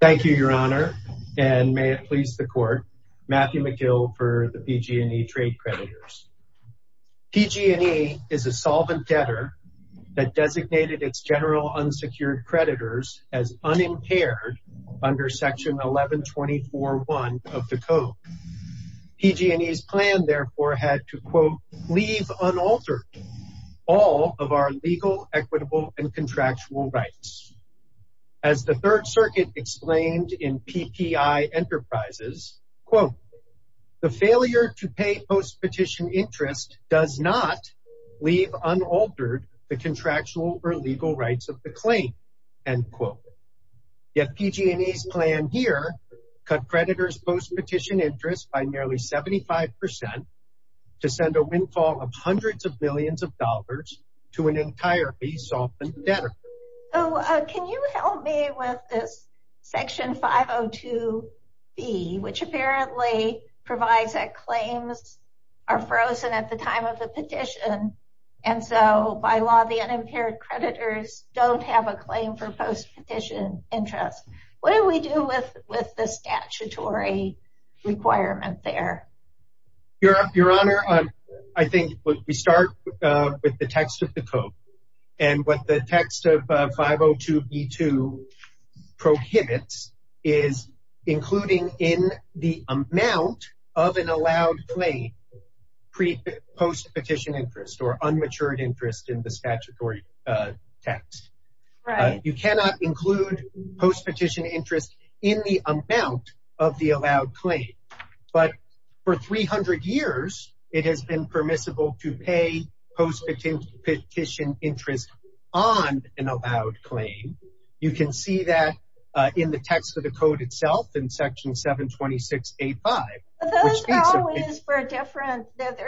Thank you your honor and may it please the court Matthew McGill for the PG&E trade creditors. PG&E is a solvent debtor that designated its general unsecured creditors as unimpaired under section 1124 one of the code. PG&E's plan therefore had to quote leave unaltered all of our legal equitable and as the third circuit explained in PPI Enterprises quote the failure to pay post-petition interest does not leave unaltered the contractual or legal rights of the claim end quote. Yet PG&E's plan here cut creditors post-petition interest by nearly 75% to send a windfall of hundreds of millions of dollars to an entirely softened debtor. Can you help me with this section 502b which apparently provides that claims are frozen at the time of the petition and so by law the unimpaired creditors don't have a claim for post-petition interest. What do we do with with the statutory requirement there? Your honor I think we start with the text of the code and what the text of 502b2 prohibits is including in the amount of an allowed claim pre post-petition interest or unmatured interest in the statutory text. You cannot include post-petition interest in the 300 years it has been permissible to pay post-petition interest on an allowed claim. You can see that in the text of the code itself in section 726a5. They're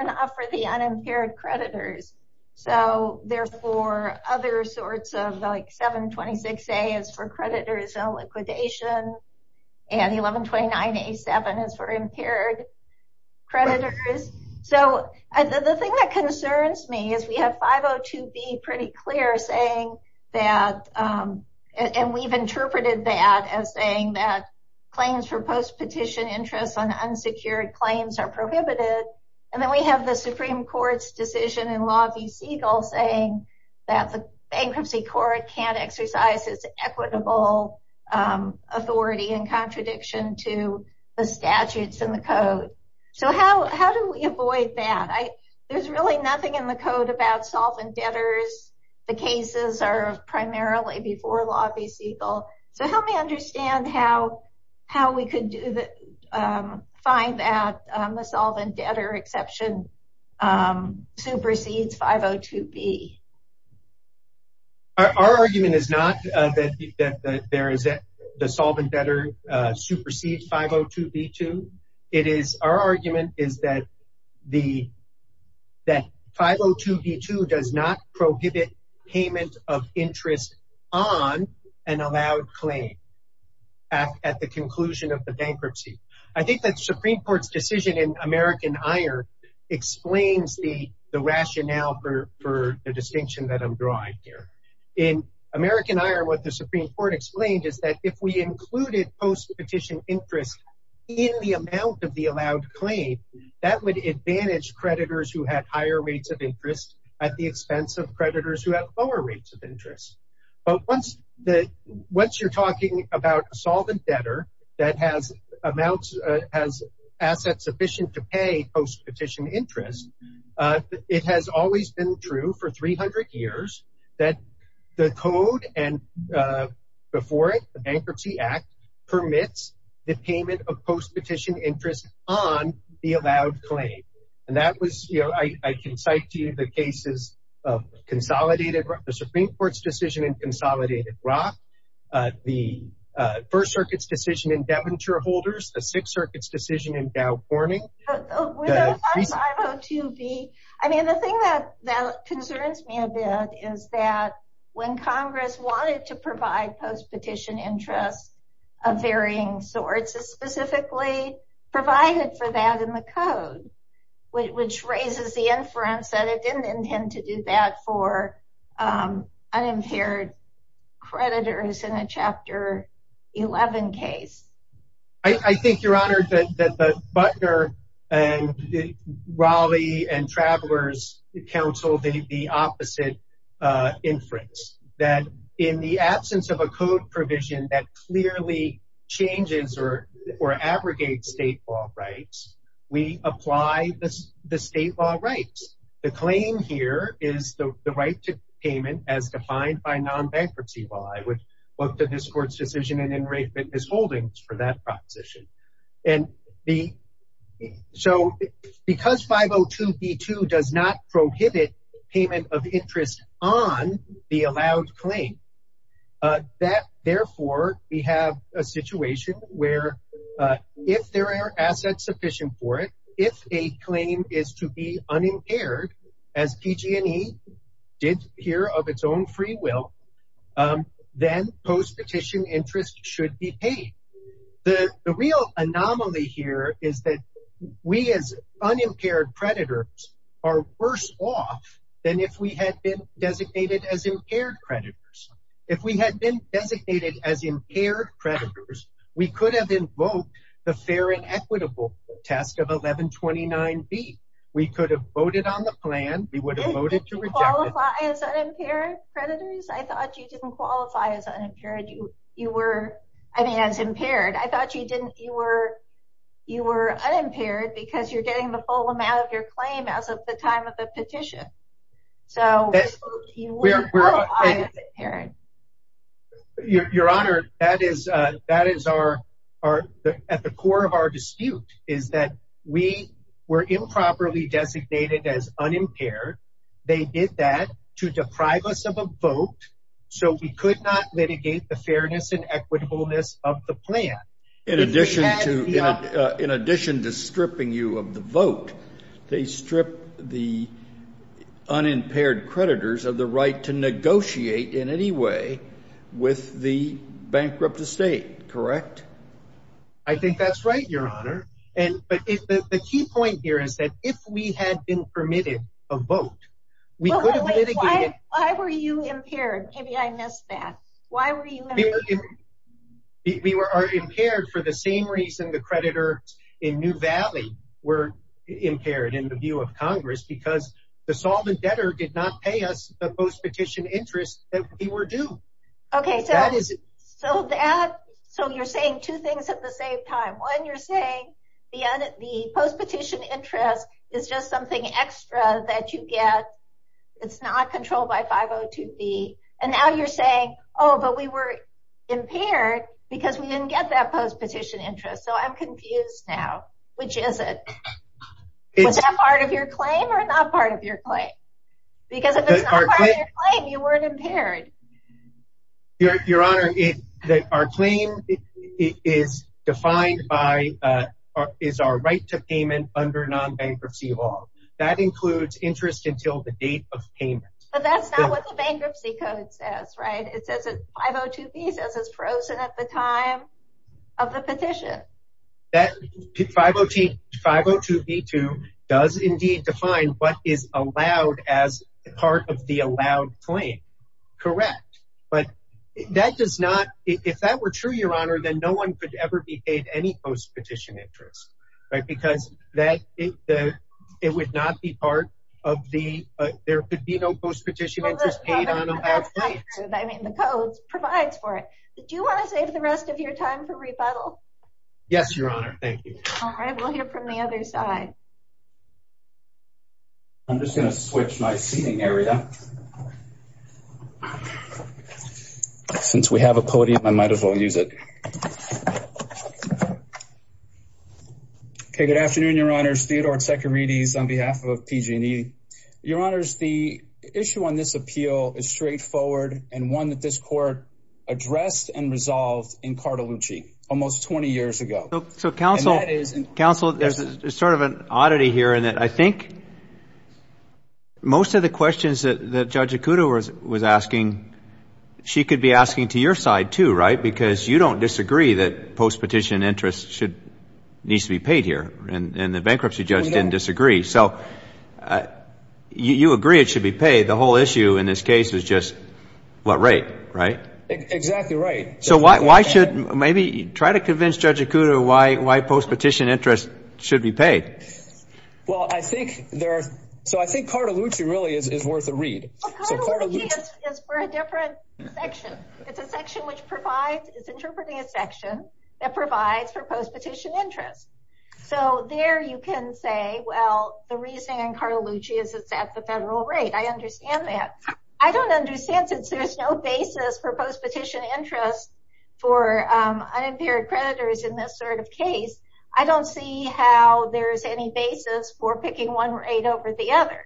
not for the unimpaired creditors so they're for other sorts of like 726a is for creditors so the thing that concerns me is we have 502b pretty clear saying that and we've interpreted that as saying that claims for post-petition interest on unsecured claims are prohibited and then we have the supreme court's decision in law v segal saying that the bankruptcy court can't exercise its equitable authority in contradiction to the statutes in the code. So how do we avoid that? There's really nothing in the code about solvent debtors. The cases are primarily before law v segal so help me understand how we could find that the solvent debtor exception supersedes 502b. Our argument is not that there is the solvent debtor supersedes 502b2. Our argument is that 502b2 does not prohibit payment of interest on an allowed claim at the conclusion of the bankruptcy. I think that the supreme court's decision in American iron explains the rationale for the distinction that I'm drawing here. In American iron what the supreme court explained is that if we included post-petition interest in the amount of the allowed claim that would advantage creditors who had higher rates of interest at the expense of creditors who have lower rates of interest but once you're talking about a solvent debtor that has amounts has assets sufficient to pay post-petition interest it has always been true for 300 years that the code and before it the bankruptcy act permits the payment of post-petition interest on the allowed claim and that was you know I can cite to you the cases of consolidated the supreme court's decision in consolidated rock the first circuit's decision in debenture holders the sixth circuit's decision in dow corning I mean the thing that that concerns me a bit is that when congress wanted to provide post-petition interest of varying sorts specifically provided for that in the code which raises the inference that it didn't intend to do that for unimpaired creditors in a chapter 11 case. I think your honor that the butler and raleigh and travelers council the opposite inference that in the absence of a code provision that clearly changes or or abrogates state law rights we apply the state law rights the claim here is the right to payment as defined by non-bankruptcy law I would look to this court's decision and in rate fitness holdings for that proposition and the so because 502 b2 does not prohibit payment of interest on the allowed claim that therefore we have a situation where if there are assets sufficient for it if a claim is to be unimpaired as pg&e did here of its own free will then post-petition interest should be paid the the real anomaly here is that we as unimpaired creditors are worse off than if we had been designated as impaired creditors if we had been designated as impaired creditors we could have invoked the fair and equitable test of 1129 b we could have voted on the plan we would have voted to reject predators I thought you didn't qualify as unimpaired you you were I mean as impaired I thought you didn't you were you were unimpaired because you're getting the full amount of your claim as of the time of the petition so you're you're honored that is that is our our at the core of our dispute is that we were improperly designated as unimpaired they did that to deprive us of a vote so we could not litigate the fairness and equitableness of the plan in addition to in addition to stripping you of the vote they strip the unimpaired creditors of the right to negotiate in any way with the bankrupt estate correct I think that's right your honor and but if the key point here is that if we had been permitted a vote we could have litigated why were you impaired maybe I missed that why were you we were are impaired for the same reason the creditors in new valley were impaired in the view of congress because the solvent debtor did not pay us the post-petition interest that we were due okay so that is it so that so you're saying two things at the same time when you're saying the post-petition interest is just something extra that you get it's not controlled by 502b and now you're saying oh but we were impaired because we didn't get that post-petition interest so I'm confused now which is it is that part of your claim or not part of your claim because if it's not part of your claim you weren't impaired your honor it that our claim is defined by uh is our right to payment under non-bankruptcy law that includes interest until the date of payment but that's not what the bankruptcy code says right it says 502b says it's frozen at the time of the petition that 502b2 does indeed define what is allowed as part of the allowed claim correct but that does not if that were true your honor then no one could ever be paid any post-petition interest right because that it the it would not be part of the uh there could be no post-petition interest I mean the code provides for it did you want to save the rest of your time for rebuttal yes your honor thank you all right we'll hear from the other side I'm just going to switch my seating area since we have a podium I might as well use it okay good afternoon your honors Theodore Tsekarides on behalf of PG&E your honors the issue on this appeal is straightforward and one that this court addressed and resolved in Cartolucci almost 20 years ago so counsel counsel there's a sort of an oddity here and that I think most of the questions that Judge Ikuto was asking she could be asking to your side too right because you don't disagree that post-petition interest should needs to be paid here and and the bankruptcy judge didn't disagree so you agree it should be paid the whole issue in this case is just what rate right exactly right so why why should maybe try to convince Judge Ikuto why why post-petition interest should be paid well I think there are so I think Cartolucci really is is worth a read so Cartolucci is for a different section it's a section which provides it's interpreting a section that provides for post-petition interest so there you can say well the reasoning in Cartolucci is it's at the federal rate I understand that I don't understand since there's no basis for post-petition interest for unimpaired creditors in this sort of case I don't see how there's any basis for picking one rate over the other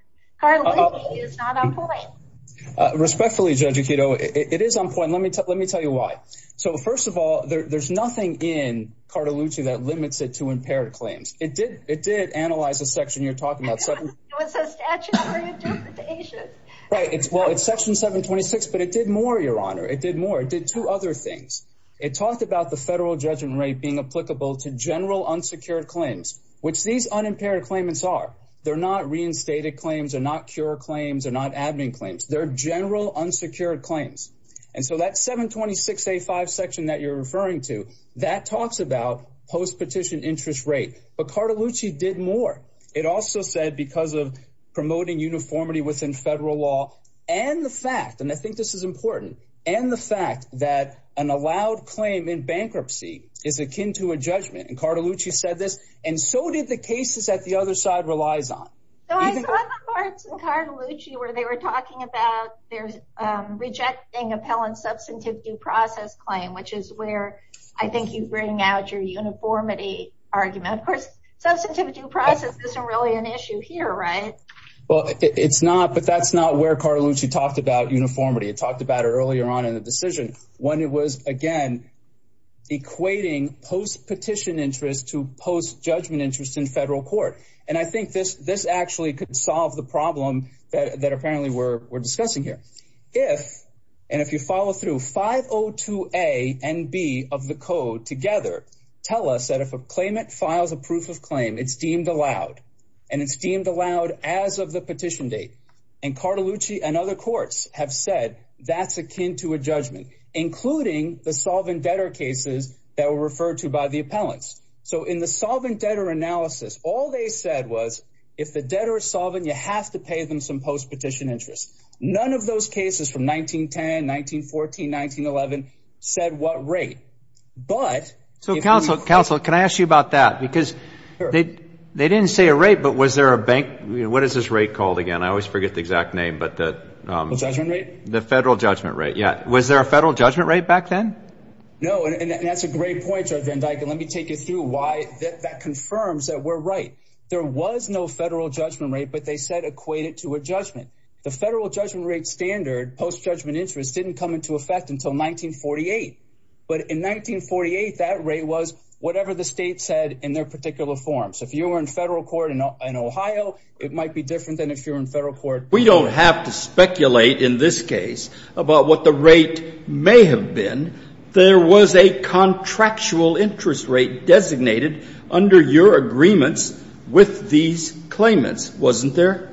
respectfully Judge Ikuto it is on point let me tell let me tell you why so first of all there's nothing in Cartolucci that limits it to impaired claims it did it did analyze the section you're talking about right it's well it's section 726 but it did more your honor it did more it did two other things it talked about the federal judgment rate being applicable to general unsecured claims which these unimpaired claimants are they're not reinstated claims are not cure claims are not admin claims they're general unsecured claims and so that 726a5 section that you're referring to that talks about post-petition interest rate but Cartolucci did more it also said because of promoting uniformity within federal law and the fact and I think this is important and the fact that an allowed claim in bankruptcy is akin to a judgment and Cartolucci said this and so did the cases that the other side relies on so I saw the courts in Cartolucci where they were talking about there's rejecting appellant substantive due process claim which is where I think you bring out your uniformity argument of course substantive due process isn't really an issue here right well it's not but that's not where Cartolucci talked about uniformity it talked about earlier on in the decision when it was again equating post-petition interest to post-judgment interest in federal court and I think this this actually could solve the problem that apparently we're discussing here if and if you follow through 502a and b of the code together tell us that if a claimant files a proof of claim it's deemed allowed and it's deemed allowed as of the petition date and Cartolucci and other courts have said that's akin to a judgment including the solvent debtor cases that were referred to by the appellants so in the solvent debtor analysis all they said was if the debtor is solvent you have to pay them some post-petition interest none of those cases from 1910 1914 1911 said what rate but so counsel counsel can I ask you about that because they they didn't say a rate but was there a bank what is this rate called again I always forget the exact name but the judgment rate the federal judgment rate yeah was there a federal judgment rate back then no and that's a great point let me take you through why that confirms that we're right there was no federal judgment rate but they said equate it to a judgment the federal judgment rate standard post-judgment interest didn't come into effect until 1948 but in 1948 that rate was whatever the state said in their particular forms if you were in federal court in ohio it might be different than if you're in federal court we don't have to speculate in this case about what the rate may have been there was a contractual interest rate designated under your agreements with these claimants wasn't there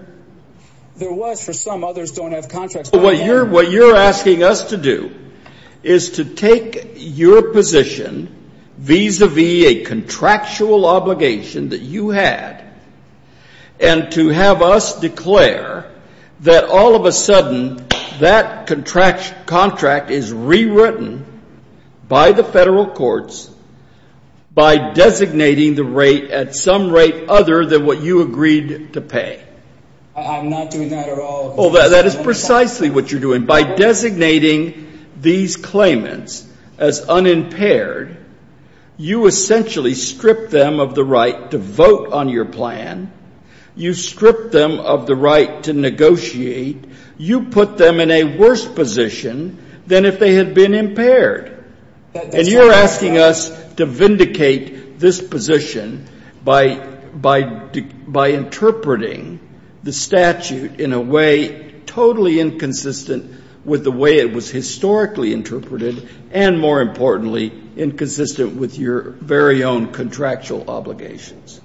there was for some others don't have contracts what you're what you're asking us to do is to take your position vis-a-vis a contractual obligation that you had and to have us declare that all of a sudden that contract contract is rewritten by the federal courts by designating the rate at some rate other than what you agreed to pay I'm not doing that at all well that is precisely what you're doing by designating these claimants as unimpaired you essentially strip them of the right to vote on your plan you strip them of the right to negotiate you put them in a worse position than if they had been impaired and you're asking us to vindicate this position by interpreting the statute in a way totally inconsistent with the way it was historically interpreted and more importantly inconsistent with your very own contractual obligations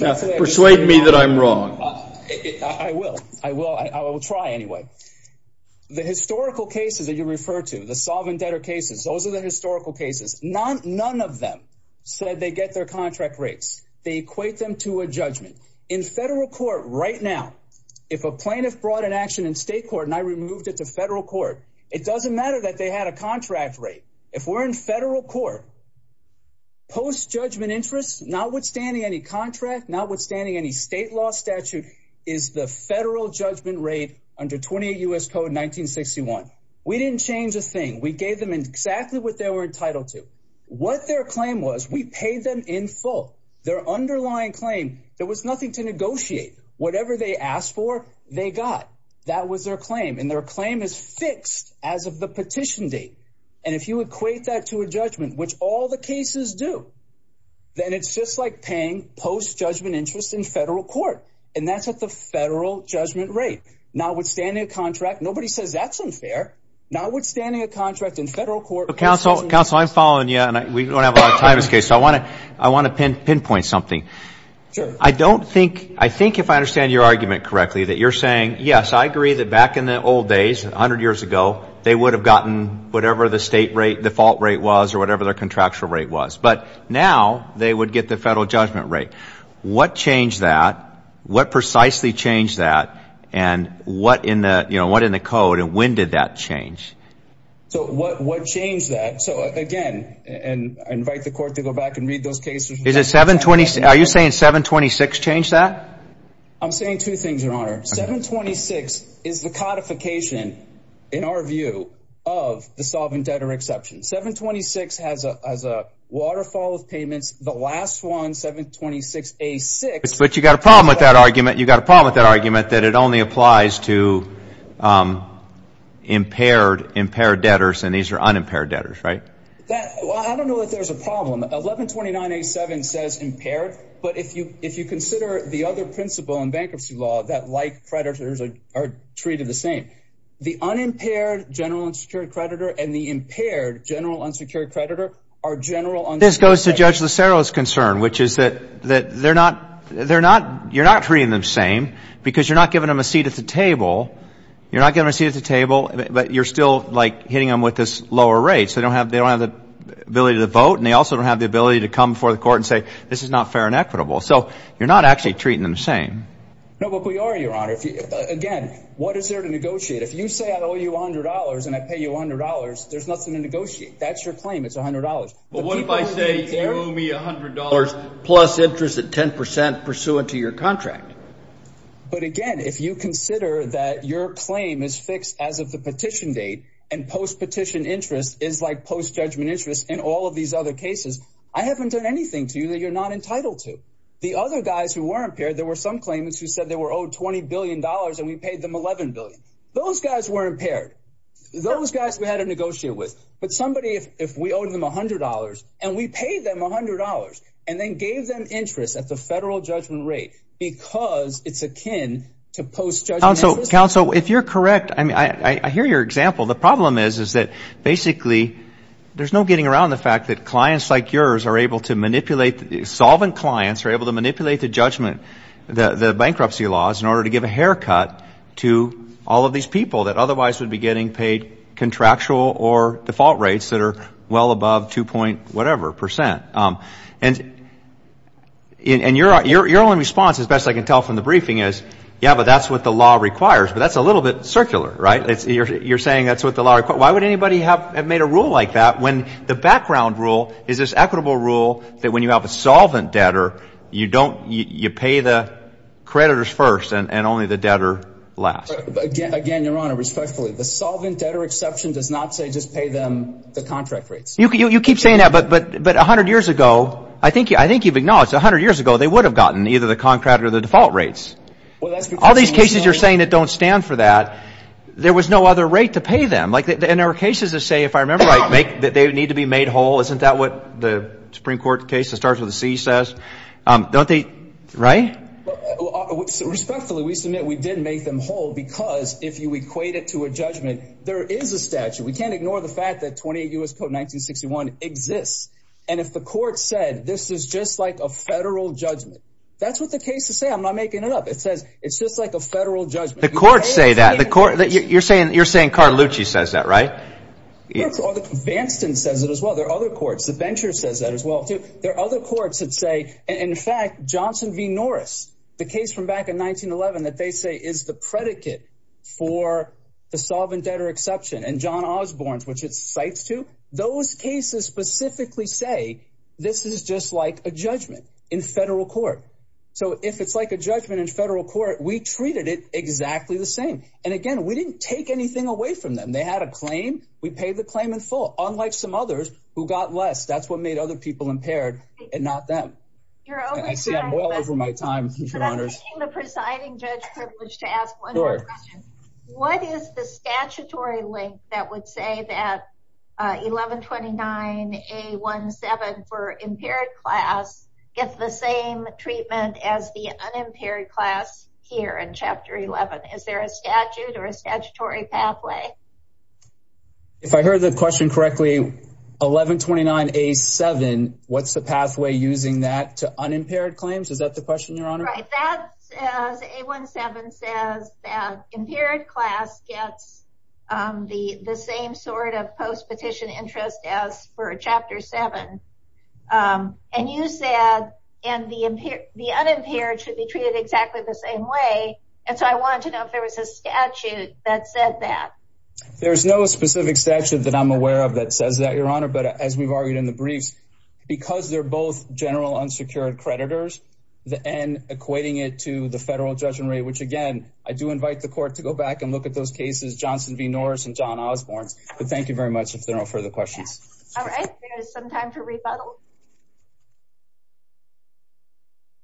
now persuade me that I'm wrong I will I will I will try anyway the historical cases that you refer to the solvent debtor cases those are the historical cases not none of them said they get their contract rates they equate them to a judgment in federal court right now if a plaintiff brought an action in state court and I removed it to federal court it doesn't matter that they had a contract rate if we're in federal court post judgment interest notwithstanding any contract notwithstanding any state law statute is the federal judgment rate under 28 U.S. code 1961 we didn't change a thing we gave them exactly what they were entitled to what their claim was we paid them in full their underlying claim there was nothing to negotiate whatever they asked for they got that was their claim and their claim is cases do then it's just like paying post judgment interest in federal court and that's at the federal judgment rate notwithstanding a contract nobody says that's unfair notwithstanding a contract in federal court counsel counsel I'm following you and we don't have a lot of time this case so I want to I want to pinpoint something I don't think I think if I understand your argument correctly that you're saying yes I agree that back in the old days 100 years ago they would have gotten whatever the state rate default rate was or whatever their contracts rate was but now they would get the federal judgment rate what changed that what precisely changed that and what in the you know what in the code and when did that change so what what changed that so again and I invite the court to go back and read those cases is it 720 are you saying 726 changed that I'm saying two things your honor 726 is the codification in our view of the solvent debtor exception 726 has a as a waterfall of payments the last one 726 a6 but you got a problem with that argument you got a problem with that argument that it only applies to impaired impaired debtors and these are unimpaired debtors right that well I don't know if there's a problem 1129 a7 says impaired but if you if you consider the other principle in bankruptcy law that like creditors are treated the same the unimpaired general unsecured creditor and the impaired general unsecured creditor are general on this goes to judge lucero's concern which is that that they're not they're not you're not treating them same because you're not giving them a seat at the table you're not giving a seat at the table but you're still like hitting them with this lower rate so they don't have they don't have the ability to vote and they also don't have the ability to come before the court and say this is not fair and equitable so you're not actually treating them the same no but we are your honor if you again what is there to negotiate if you say I owe you a hundred dollars and I pay you a hundred dollars there's nothing to negotiate that's your claim it's a hundred dollars but what if I say you owe me a hundred dollars plus interest at ten percent pursuant to your contract but again if you consider that your claim is fixed as of the petition date and post petition interest is like post judgment interest in all of these other cases I haven't done anything to you that you're not entitled to the other guys who were impaired there were some claimants who said they were owed 20 billion dollars and we paid them 11 billion those guys were impaired those guys we had to negotiate with but somebody if we owed them a hundred dollars and we paid them a hundred dollars and then gave them interest at the federal judgment rate because it's akin to post judgment counsel if you're correct I mean I I hear your example the problem is is that basically there's no getting around the fact that clients like yours are able to manipulate the solvent clients are able to manipulate the judgment the the bankruptcy laws in order to give a haircut to all of these people that otherwise would be getting paid contractual or default rates that are well above two point whatever percent and and you're you're your only response as best I can tell from the briefing is yeah but that's what the law requires but that's a little bit circular right it's you're you're saying that's what the law why would anybody have made a rule like that when the background rule is this equitable rule that when you have a solvent debtor you don't you pay the creditors first and and only the debtor last again your honor respectfully the solvent debtor exception does not say just pay them the contract rates you can you keep saying that but but but a hundred years ago I think I think you've acknowledged a hundred years ago they would have gotten either the contract or the there was no other rate to pay them like and there are cases to say if I remember right make that they need to be made whole isn't that what the supreme court case that starts with a c says um don't they right respectfully we submit we did make them whole because if you equate it to a judgment there is a statute we can't ignore the fact that 28 us code 1961 exists and if the court said this is just like a federal judgment that's what the case to say I'm not making it up it says it's just like a federal judgment the courts say that the court that you're saying you're saying Carlucci says that right it's all the vanston says it as well there are other courts the bencher says that as well too there are other courts that say in fact johnson v norris the case from back in 1911 that they say is the predicate for the solvent debtor exception and john osborne's which it cites to those cases specifically say this is just like a judgment in federal court so if it's a judgment in federal court we treated it exactly the same and again we didn't take anything away from them they had a claim we paid the claim in full unlike some others who got less that's what made other people impaired and not them i see i'm well over my time your honors the presiding judge privilege to ask one more question what is the statutory link that would say that uh 11 29 a 17 for impaired class gets the same treatment as the unimpaired class here in chapter 11 is there a statute or a statutory pathway if i heard the question correctly 11 29 a 7 what's the pathway using that to unimpaired claims is that the question your honor right that says a 17 says that impaired class gets um the the same sort of post-petition interest as for chapter 7 um and you said and the impaired the unimpaired should be treated exactly the same way and so i wanted to know if there was a statute that said that there's no specific statute that i'm aware of that says that your honor but as we've argued in the briefs because they're both general unsecured creditors the n equating it to the federal judgment rate which again i do invite the court to go back and look at those cases johnson v norris and john osborne but thank you very much if there are no further questions all right there is some time for rebuttal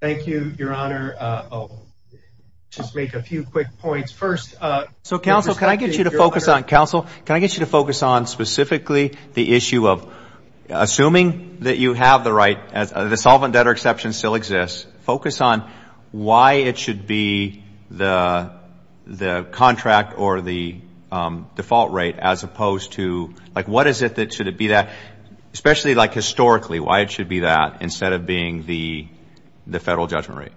thank you your honor uh i'll just make a few quick points first uh so counsel can i get you to focus on counsel can i get you to focus on specifically the issue of assuming that you the solvent debtor exception still exists focus on why it should be the the contract or the default rate as opposed to like what is it that should it be that especially like historically why it should be that instead of being the the federal judgment rate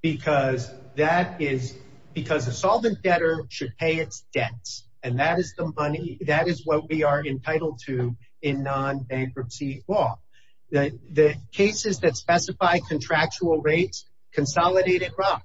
because that is because the solvent debtor should pay its debts and that is the money that is what we are entitled to in non-bankruptcy law the the cases that specify contractual rates consolidated rock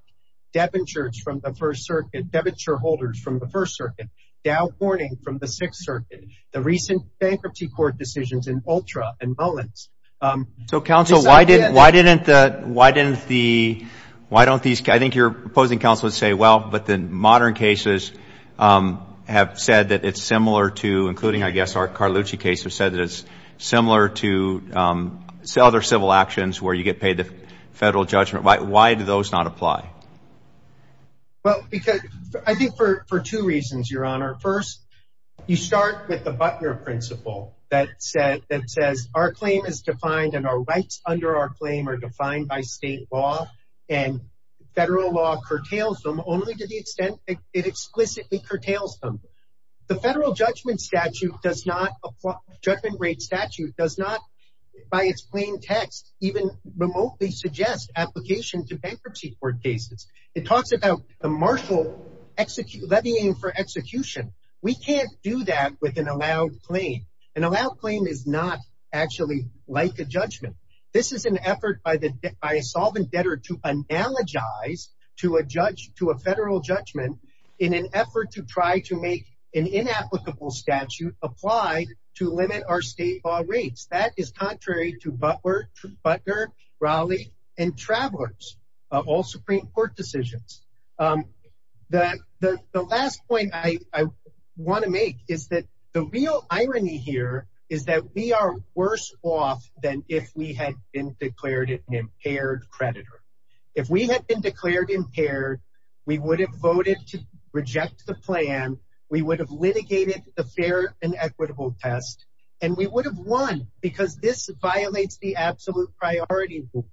debentures from the first circuit debenture holders from the first circuit dow warning from the sixth circuit the recent bankruptcy court decisions in ultra and mullins um so counsel why did why didn't the why didn't the why don't these i think you're opposing counsel would say well but the cases said that it's similar to um other civil actions where you get paid the federal judgment why do those not apply well because i think for for two reasons your honor first you start with the butler principle that said that says our claim is defined and our rights under our claim are defined by state law and federal law curtails them only to the extent that it explicitly curtails them the federal judgment statute does not apply judgment rate statute does not by its plain text even remotely suggest application to bankruptcy court cases it talks about the marshal execute let me aim for execution we can't do that with an allowed claim an allowed claim is not actually like a judgment this is an effort by the by a solvent debtor to analogize to a judge to a federal judgment in an effort to try to make an inapplicable statute applied to limit our state law rates that is contrary to butler to butler raleigh and travelers of all supreme court decisions um that the the last point i i want to make is that the real irony here is that we are worse off than if we had been declared an impaired predator if we had been declared impaired we would have voted to reject the plan we would have litigated the fair and equitable test and we would have won because this violates the absolute priority rule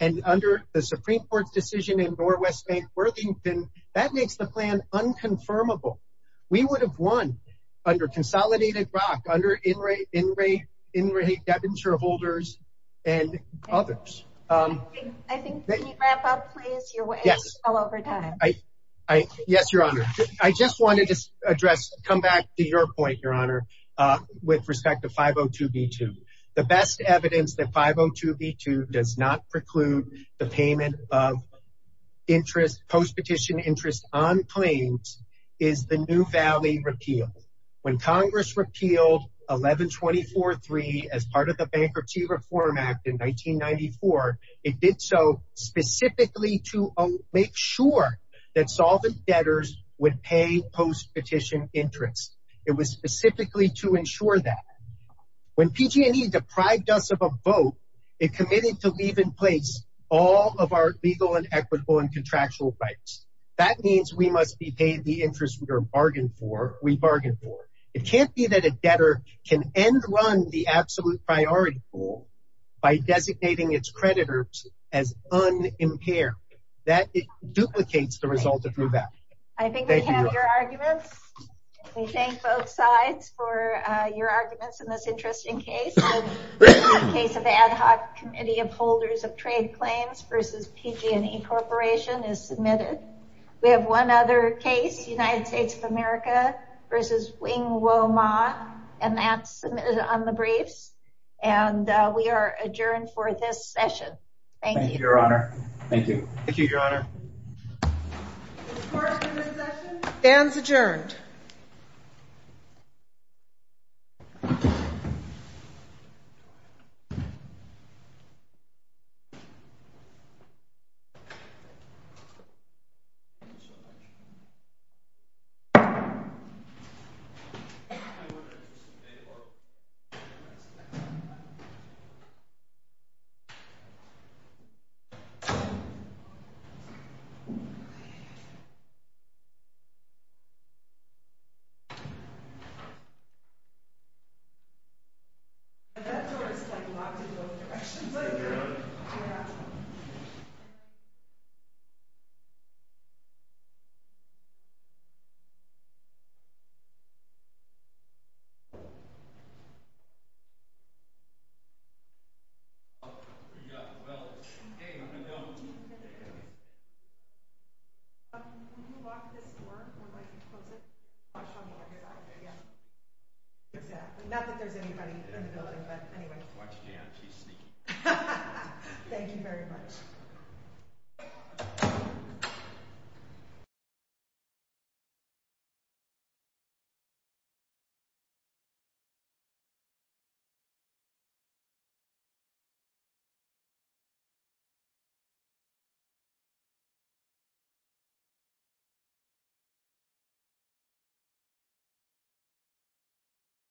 and under the supreme court's decision in door west bank worthington that makes the plan unconfirmable we would have won under consolidated rock under inray inray inray debenture holders and others um i think can you wrap up please your way yes well over time i i yes your honor i just wanted to address come back to your point your honor uh with respect to 502 b2 the best evidence that 502 b2 does not preclude the payment of interest post-petition interest on claims is the new it did so specifically to make sure that solvent debtors would pay post-petition interest it was specifically to ensure that when pg&e deprived us of a vote it committed to leave in place all of our legal and equitable and contractual rights that means we must be paid the interest we are bargained for we bargained for it can't be that a debtor can end run the absolute priority by designating its creditors as unimpaired that it duplicates the result of new value i think we have your arguments we thank both sides for uh your arguments in this interesting case case of ad hoc committee of holders of trade claims versus pg&e corporation is submitted we have one other case united states of america versus wing wo ma and that's submitted on the we are adjourned for this session thank you your honor thank you thank you your honor fans adjourned so that door is like locked in both directions oh yeah well okay thank you very much you